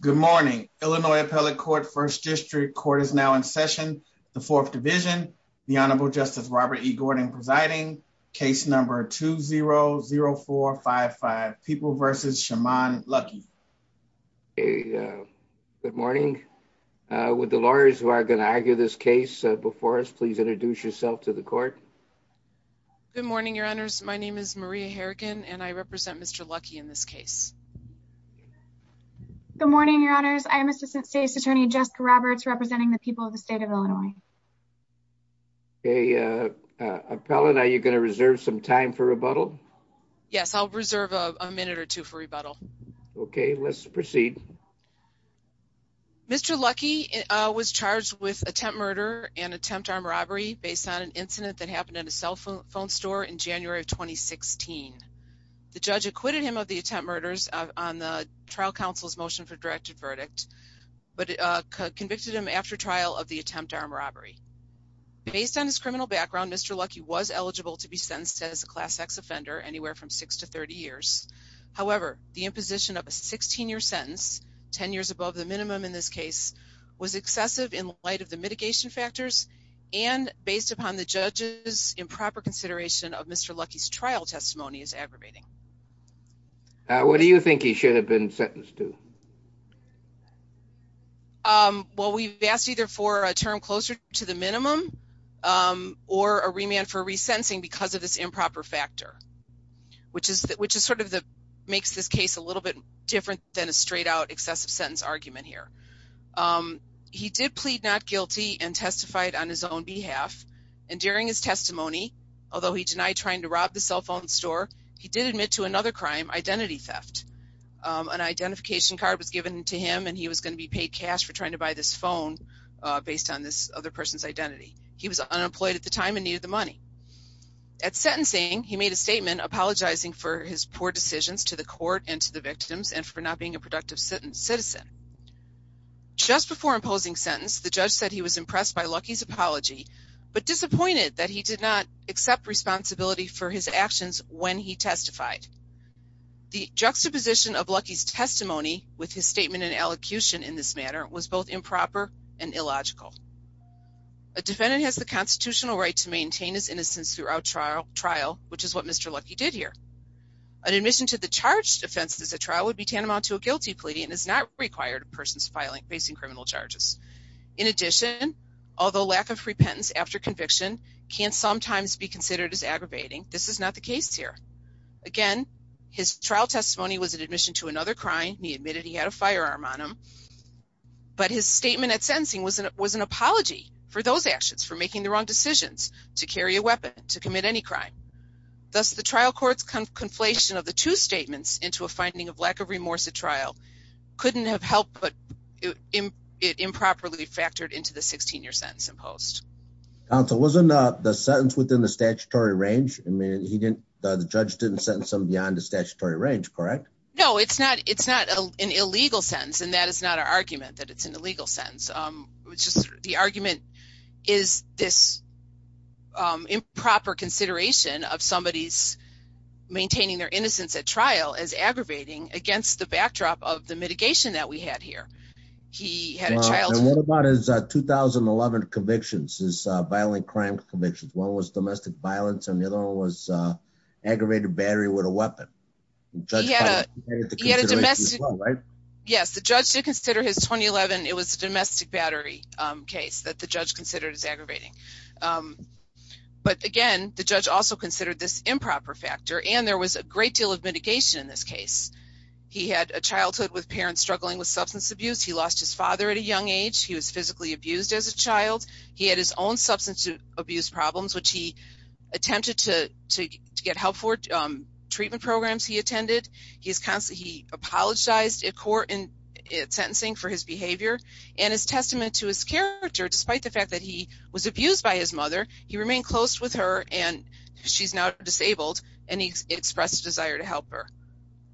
Good morning, Illinois Appellate Court, 1st District. Court is now in session, the 4th Division. The Honorable Justice Robert E. Gordon presiding. Case number 2-0-0455, People v. Shimon Luckey. Good morning. Would the lawyers who are going to argue this case before us please introduce yourself to the court? Good morning, Your Honors. My name is Maria Harrigan and I represent Mr. Luckey in this case. Good morning, Your Honors. I am Assistant State's Attorney Jessica Roberts representing the people of the state of Illinois. Okay, Appellant, are you going to reserve some time for rebuttal? Yes, I'll reserve a minute or two for rebuttal. Okay, let's proceed. Mr. Luckey was charged with attempt murder and attempt armed robbery based on an incident that happened at a cell phone store in January of 2016. The judge acquitted him of the attempt murders on the trial counsel's motion for directed verdict, but convicted him after trial of the attempt armed robbery. Based on his criminal background, Mr. Luckey was eligible to be sentenced as a Class X offender anywhere from 6 to 30 years. However, the imposition of a 16-year sentence, 10 years above the minimum in this case, was excessive in light of the mitigation factors and based upon the judge's improper consideration of Mr. Luckey's trial testimony as aggravating. What do you think he should have been sentenced to? Well, we've asked either for a term closer to the minimum or a remand for resentencing because of this improper factor, which makes this case a little bit different than a straight-out excessive sentence argument here. He did plead not guilty and testified on his own behalf, and during his testimony, although he denied trying to rob the cell phone store, he did admit to another crime, identity theft. An identification card was given to him and he was going to be paid cash for trying to buy this phone based on this other person's identity. He was unemployed at the time and needed the money. At sentencing, he made a statement apologizing for his poor decisions to the court and to the victims and for not being a productive citizen. Just before imposing sentence, the judge said he was impressed by Luckey's apology, but disappointed that he did not accept responsibility for his actions when he testified. The juxtaposition of Luckey's testimony with his statement and elocution in this matter was both improper and illogical. A defendant has the constitutional right to maintain his innocence throughout trial, which is what Mr. Luckey did here. An admission to the charged offense as a trial would be tantamount to a guilty plea and is not required if a person is facing criminal charges. In addition, although lack of repentance after conviction can sometimes be considered as aggravating, this is not the case here. Again, his trial testimony was an admission to another crime. He admitted he had a firearm on him. But his statement at sentencing was an apology for those actions, for making the wrong decisions, to carry a weapon, to commit any crime. Thus, the trial court's conflation of the two statements into a finding of lack of remorse at trial couldn't have helped, but it improperly factored into the 16-year sentence imposed. Counsel, wasn't the sentence within the statutory range? I mean, the judge didn't sentence him beyond the statutory range, correct? No, it's not an illegal sentence, and that is not our argument that it's an illegal sentence. It's just the argument is this improper consideration of somebody's maintaining their innocence at trial as aggravating against the backdrop of the mitigation that we had here. And what about his 2011 convictions, his violent crime convictions? One was domestic violence, and the other one was aggravated battery with a weapon. Yes, the judge did consider his 2011, it was a domestic battery case that the judge considered as aggravating. But again, the judge also considered this improper factor, and there was a great deal of mitigation in this case. He had a childhood with parents struggling with substance abuse. He lost his father at a young age. He was physically abused as a child. He had his own substance abuse problems, which he attempted to get help for, treatment programs he attended. He apologized at court in sentencing for his behavior. And as testament to his character, despite the fact that he was abused by his mother, he remained close with her, and she's now disabled, and he expressed a desire to help her.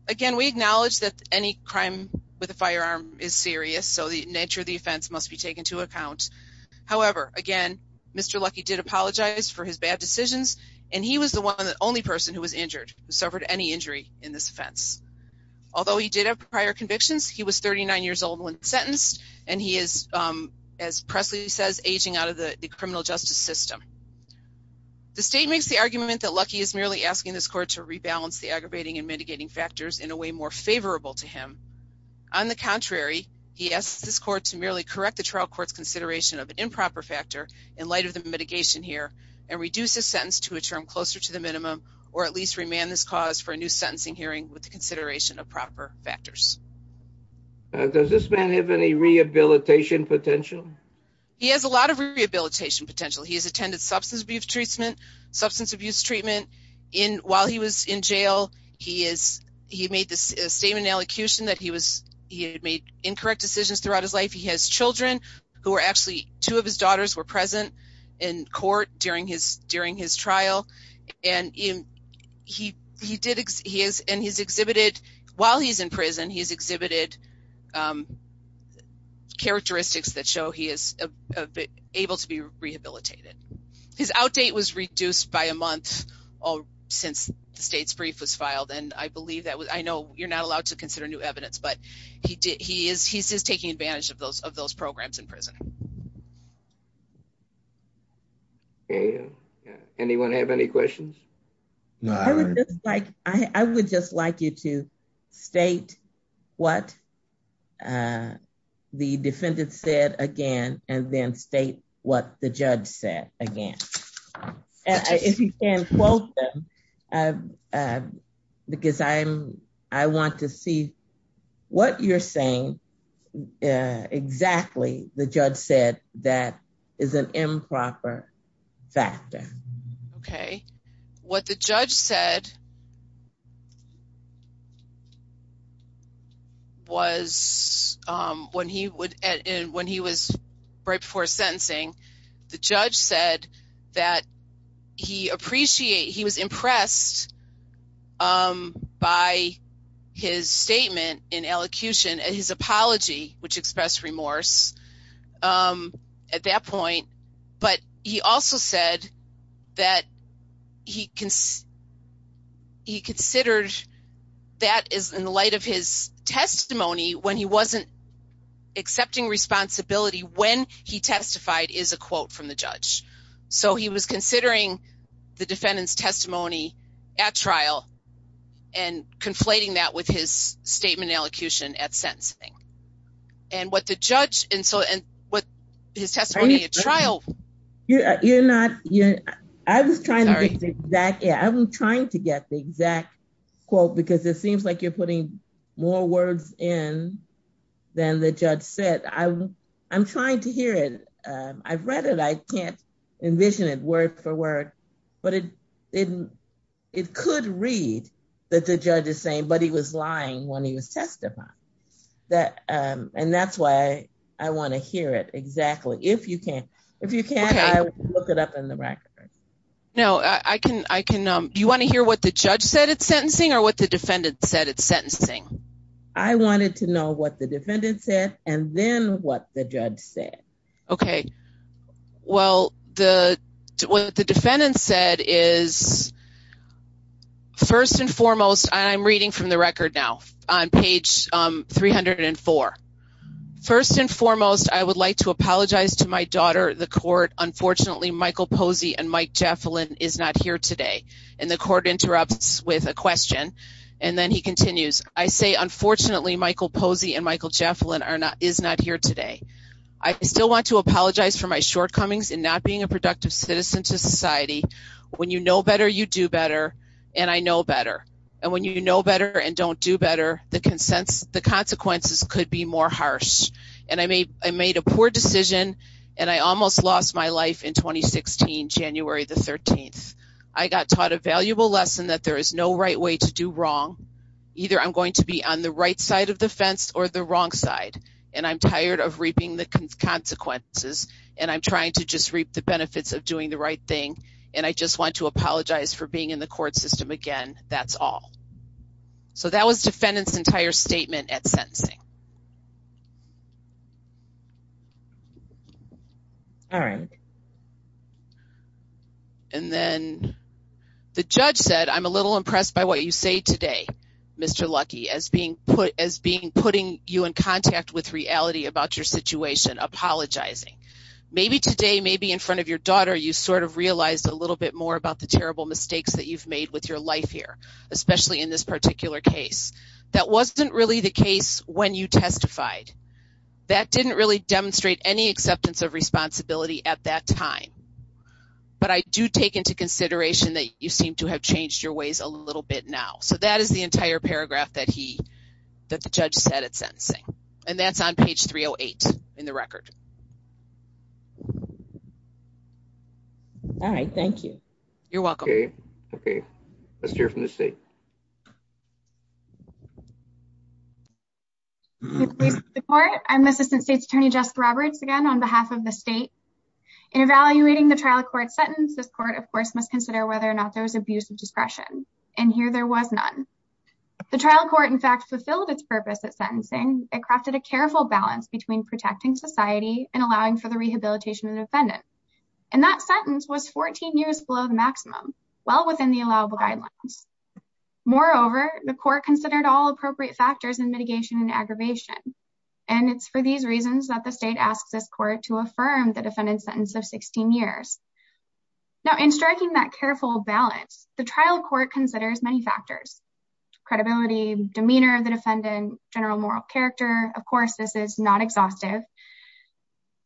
Again, we acknowledge that any crime with a firearm is serious, so the nature of the offense must be taken into account. However, again, Mr. Lucky did apologize for his bad decisions, and he was the only person who was injured, who suffered any injury in this offense. Although he did have prior convictions, he was 39 years old when sentenced, and he is, as Presley says, aging out of the criminal justice system. The state makes the argument that Lucky is merely asking this court to rebalance the aggravating and mitigating factors in a way more favorable to him. On the contrary, he asks this court to merely correct the trial court's consideration of an improper factor, in light of the mitigation here, and reduce his sentence to a term closer to the minimum, or at least remand this cause for a new sentencing hearing with the consideration of proper factors. Does this man have any rehabilitation potential? He has a lot of rehabilitation potential. He has attended substance abuse treatment. While he was in jail, he made a statement in elocution that he had made incorrect decisions throughout his life. He has children, who were actually, two of his daughters were present in court during his trial. While he's in prison, he's exhibited characteristics that show he is able to be rehabilitated. His outdate was reduced by a month since the state's brief was filed, and I know you're not allowed to consider new evidence, but he's just taking advantage of those programs in prison. Anyone have any questions? I would just like you to state what the defendant said again, and then state what the judge said again. If you can quote them, because I want to see what you're saying exactly the judge said that is an improper factor. What the judge said was, when he was right before sentencing, the judge said that he was impressed by his statement in elocution, and his apology, which expressed remorse at that point, but he also said that he considered that in light of his testimony, when he wasn't accepting responsibility, when he testified is a quote from the judge. So he was considering the defendant's testimony at trial, and conflating that with his statement in elocution at sentencing. And what the judge, and so, and what his testimony at trial... You're not, I was trying to get the exact quote, because it seems like you're putting more words in than the judge said. I'm trying to hear it. I've read it. I can't envision it word for word. But it could read that the judge is saying, but he was lying when he was testifying. And that's why I want to hear it exactly. If you can't, if you can't, I will look it up in the records. No, I can. Do you want to hear what the judge said at sentencing or what the defendant said at sentencing? I wanted to know what the defendant said, and then what the judge said. Okay. Well, what the defendant said is, first and foremost, I'm reading from the record now on page 304. First and foremost, I would like to apologize to my daughter, the court. Unfortunately, Michael Posey and Mike Jaffelin is not here today. And the court interrupts with a question, and then he continues. I say, unfortunately, Michael Posey and Michael Jaffelin is not here today. I still want to apologize for my shortcomings in not being a productive citizen to society. When you know better, you do better, and I know better. And when you know better and don't do better, the consequences could be more harsh. And I made a poor decision, and I almost lost my life in 2016, January the 13th. I got taught a valuable lesson that there is no right way to do wrong. Either I'm going to be on the right side of the fence or the wrong side. And I'm tired of reaping the consequences, and I'm trying to just reap the benefits of doing the right thing. And I just want to apologize for being in the court system again. That's all. All right. And then the judge said, I'm a little impressed by what you say today, Mr. Lucky, as being putting you in contact with reality about your situation, apologizing. Maybe today, maybe in front of your daughter, you sort of realized a little bit more about the terrible mistakes that you've made with your life here, especially in this particular case. That wasn't really the case when you testified. That didn't really demonstrate any acceptance of responsibility at that time. But I do take into consideration that you seem to have changed your ways a little bit now. So that is the entire paragraph that the judge said at sentencing. And that's on page 308 in the record. All right. Thank you. You're welcome. OK. Let's hear from the state. I'm Assistant State's Attorney Jessica Roberts again on behalf of the state. In evaluating the trial court sentence, this court, of course, must consider whether or not there was abuse of discretion. And here there was none. The trial court, in fact, fulfilled its purpose at sentencing. It crafted a careful balance between protecting society and allowing for the rehabilitation of the defendant. And that sentence was 14 years below the maximum, well within the allowable guidelines. Moreover, the court considered all appropriate factors and mitigation and aggravation. And it's for these reasons that the state asks this court to affirm the defendant's sentence of 16 years. Now, in striking that careful balance, the trial court considers many factors. Credibility, demeanor of the defendant, general moral character. Of course, this is not exhaustive.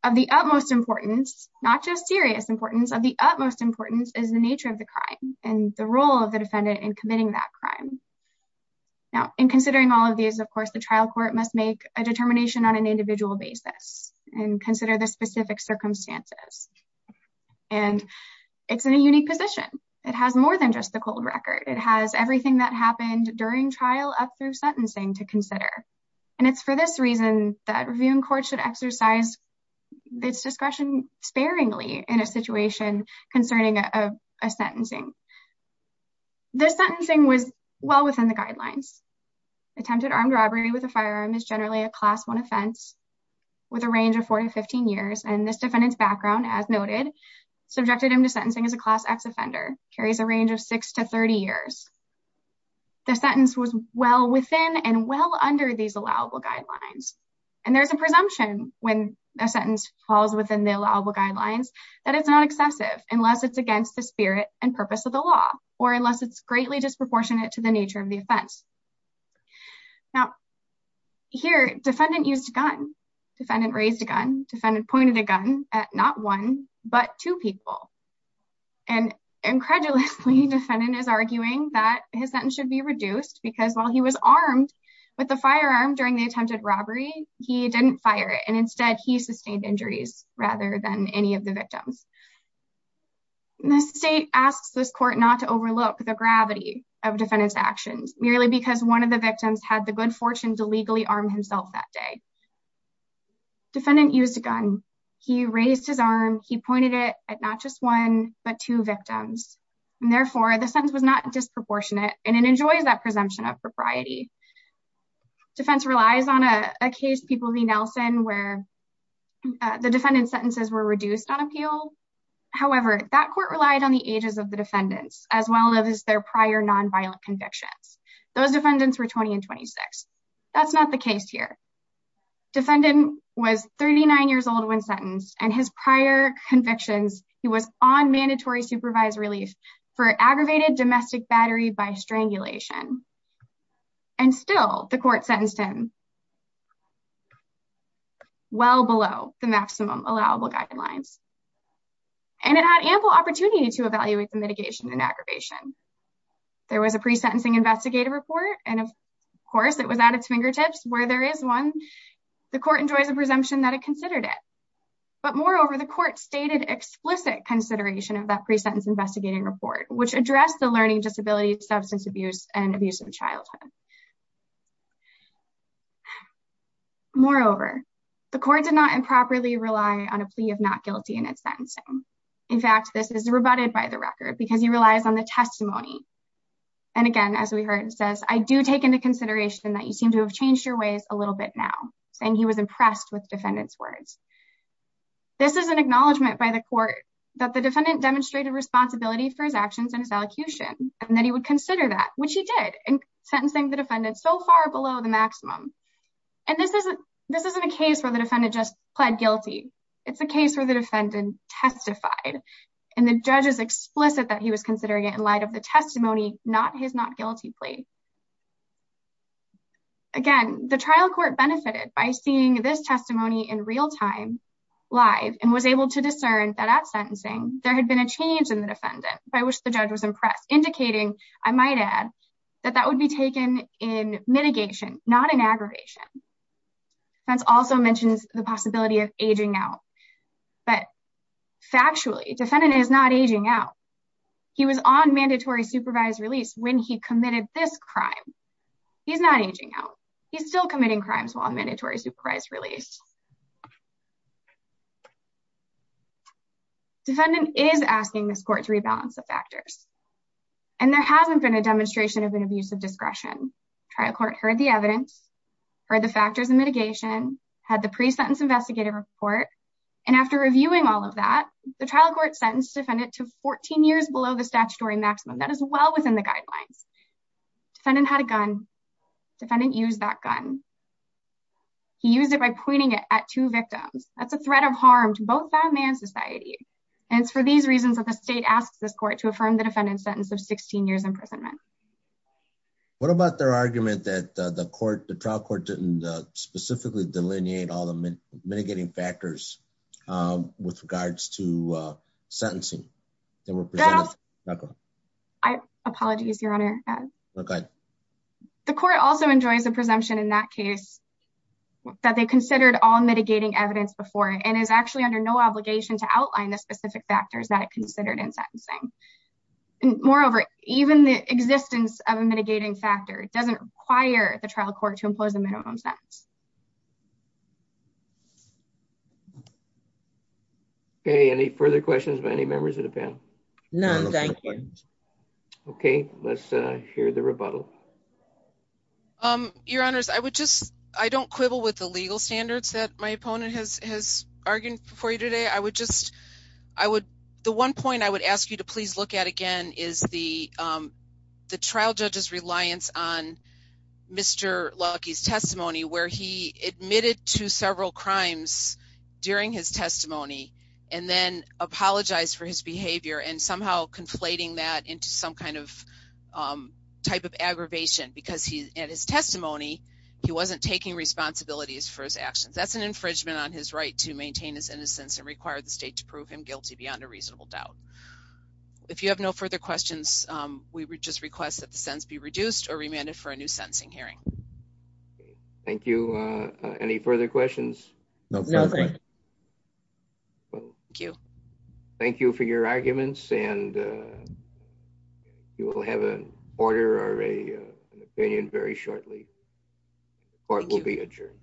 Of the utmost importance, not just serious importance, of the utmost importance is the nature of the crime and the role of the defendant in committing that crime. Now, in considering all of these, of course, the trial court must make a determination on an individual basis and consider the specific circumstances. And it's in a unique position. It has more than just the cold record. It has everything that happened during trial up through sentencing to consider. And it's for this reason that reviewing court should exercise its discretion sparingly in a situation concerning a sentencing. This sentencing was well within the guidelines. Attempted armed robbery with a firearm is generally a class one offense with a range of four to 15 years. And this defendant's background, as noted, subjected him to sentencing as a class X offender, carries a range of six to 30 years. The sentence was well within and well under these allowable guidelines. And there's a presumption when a sentence falls within the allowable guidelines that it's not excessive unless it's against the spirit and purpose of the law or unless it's greatly disproportionate to the nature of the offense. Now, here, defendant used a gun. Defendant raised a gun. Defendant pointed a gun at not one but two people. And incredulously, defendant is arguing that his sentence should be reduced because while he was armed with the firearm during the attempted robbery, he didn't fire it. And instead, he sustained injuries rather than any of the victims. The state asks this court not to overlook the gravity of defendant's actions merely because one of the victims had the good fortune to legally arm himself that day. Defendant used a gun. He raised his arm. He pointed it at not just one but two victims. And therefore, the sentence was not disproportionate. And it enjoys that presumption of propriety. Defense relies on a case, People v. Nelson, where the defendant's sentences were reduced on appeal. However, that court relied on the ages of the defendants as well as their prior nonviolent convictions. Those defendants were 20 and 26. That's not the case here. Defendant was 39 years old when sentenced and his prior convictions, he was on mandatory supervised relief for aggravated domestic battery by strangulation. And still, the court sentenced him well below the maximum allowable guidelines. And it had ample opportunity to evaluate the mitigation and aggravation. There was a pre-sentencing investigative report. And of course, it was at its fingertips where there is one. The court enjoys a presumption that it considered it. But moreover, the court stated explicit consideration of that pre-sentence investigating report, which addressed the learning disability, substance abuse, and abuse of childhood. Moreover, the court did not improperly rely on a plea of not guilty in its sentencing. In fact, this is rebutted by the record because he relies on the testimony. And again, as we heard, it says, I do take into consideration that you seem to have changed your ways a little bit now. Saying he was impressed with defendant's words. This is an acknowledgment by the court that the defendant demonstrated responsibility for his actions and his allocution. And that he would consider that, which he did. And sentencing the defendant so far below the maximum. And this isn't a case where the defendant just pled guilty. It's a case where the defendant testified. And the judge is explicit that he was considering it in light of the testimony, not his not guilty plea. Again, the trial court benefited by seeing this testimony in real time, live. And was able to discern that at sentencing, there had been a change in the defendant. By which the judge was impressed. Indicating, I might add, that that would be taken in mitigation, not in aggravation. Fence also mentions the possibility of aging out. But factually, defendant is not aging out. He was on mandatory supervised release when he committed this crime. He's not aging out. He's still committing crimes while on mandatory supervised release. Defendant is asking this court to rebalance the factors. And there hasn't been a demonstration of an abuse of discretion. Trial court heard the evidence. Heard the factors and mitigation. Had the pre-sentence investigative report. And after reviewing all of that, the trial court sentenced defendant to 14 years below the statutory maximum. That is well within the guidelines. Defendant had a gun. Defendant used that gun. He used it by pointing it at two victims. That's a threat of harm to both family and society. And it's for these reasons that the state asks this court to affirm the defendant's sentence of 16 years imprisonment. What about their argument that the trial court didn't specifically delineate all the mitigating factors with regards to sentencing? The court also enjoys a presumption in that case that they considered all mitigating evidence before. And is actually under no obligation to outline the specific factors that it considered in sentencing. Moreover, even the existence of a mitigating factor doesn't require the trial court to impose a minimum sentence. Okay, any further questions by any members of the panel? None, thank you. Okay, let's hear the rebuttal. Your Honor, I don't quibble with the legal standards that my opponent has argued for you today. The one point I would ask you to please look at again is the trial judge's reliance on Mr. Lucky's testimony. Where he admitted to several crimes during his testimony and then apologized for his behavior. And somehow conflating that into some kind of type of aggravation. Because in his testimony, he wasn't taking responsibilities for his actions. That's an infringement on his right to maintain his innocence and require the state to prove him guilty beyond a reasonable doubt. If you have no further questions, we would just request that the sentence be reduced or remanded for a new sentencing hearing. Thank you. Any further questions? None. Thank you. Thank you for your arguments and you will have an order or an opinion very shortly. The court will be adjourned.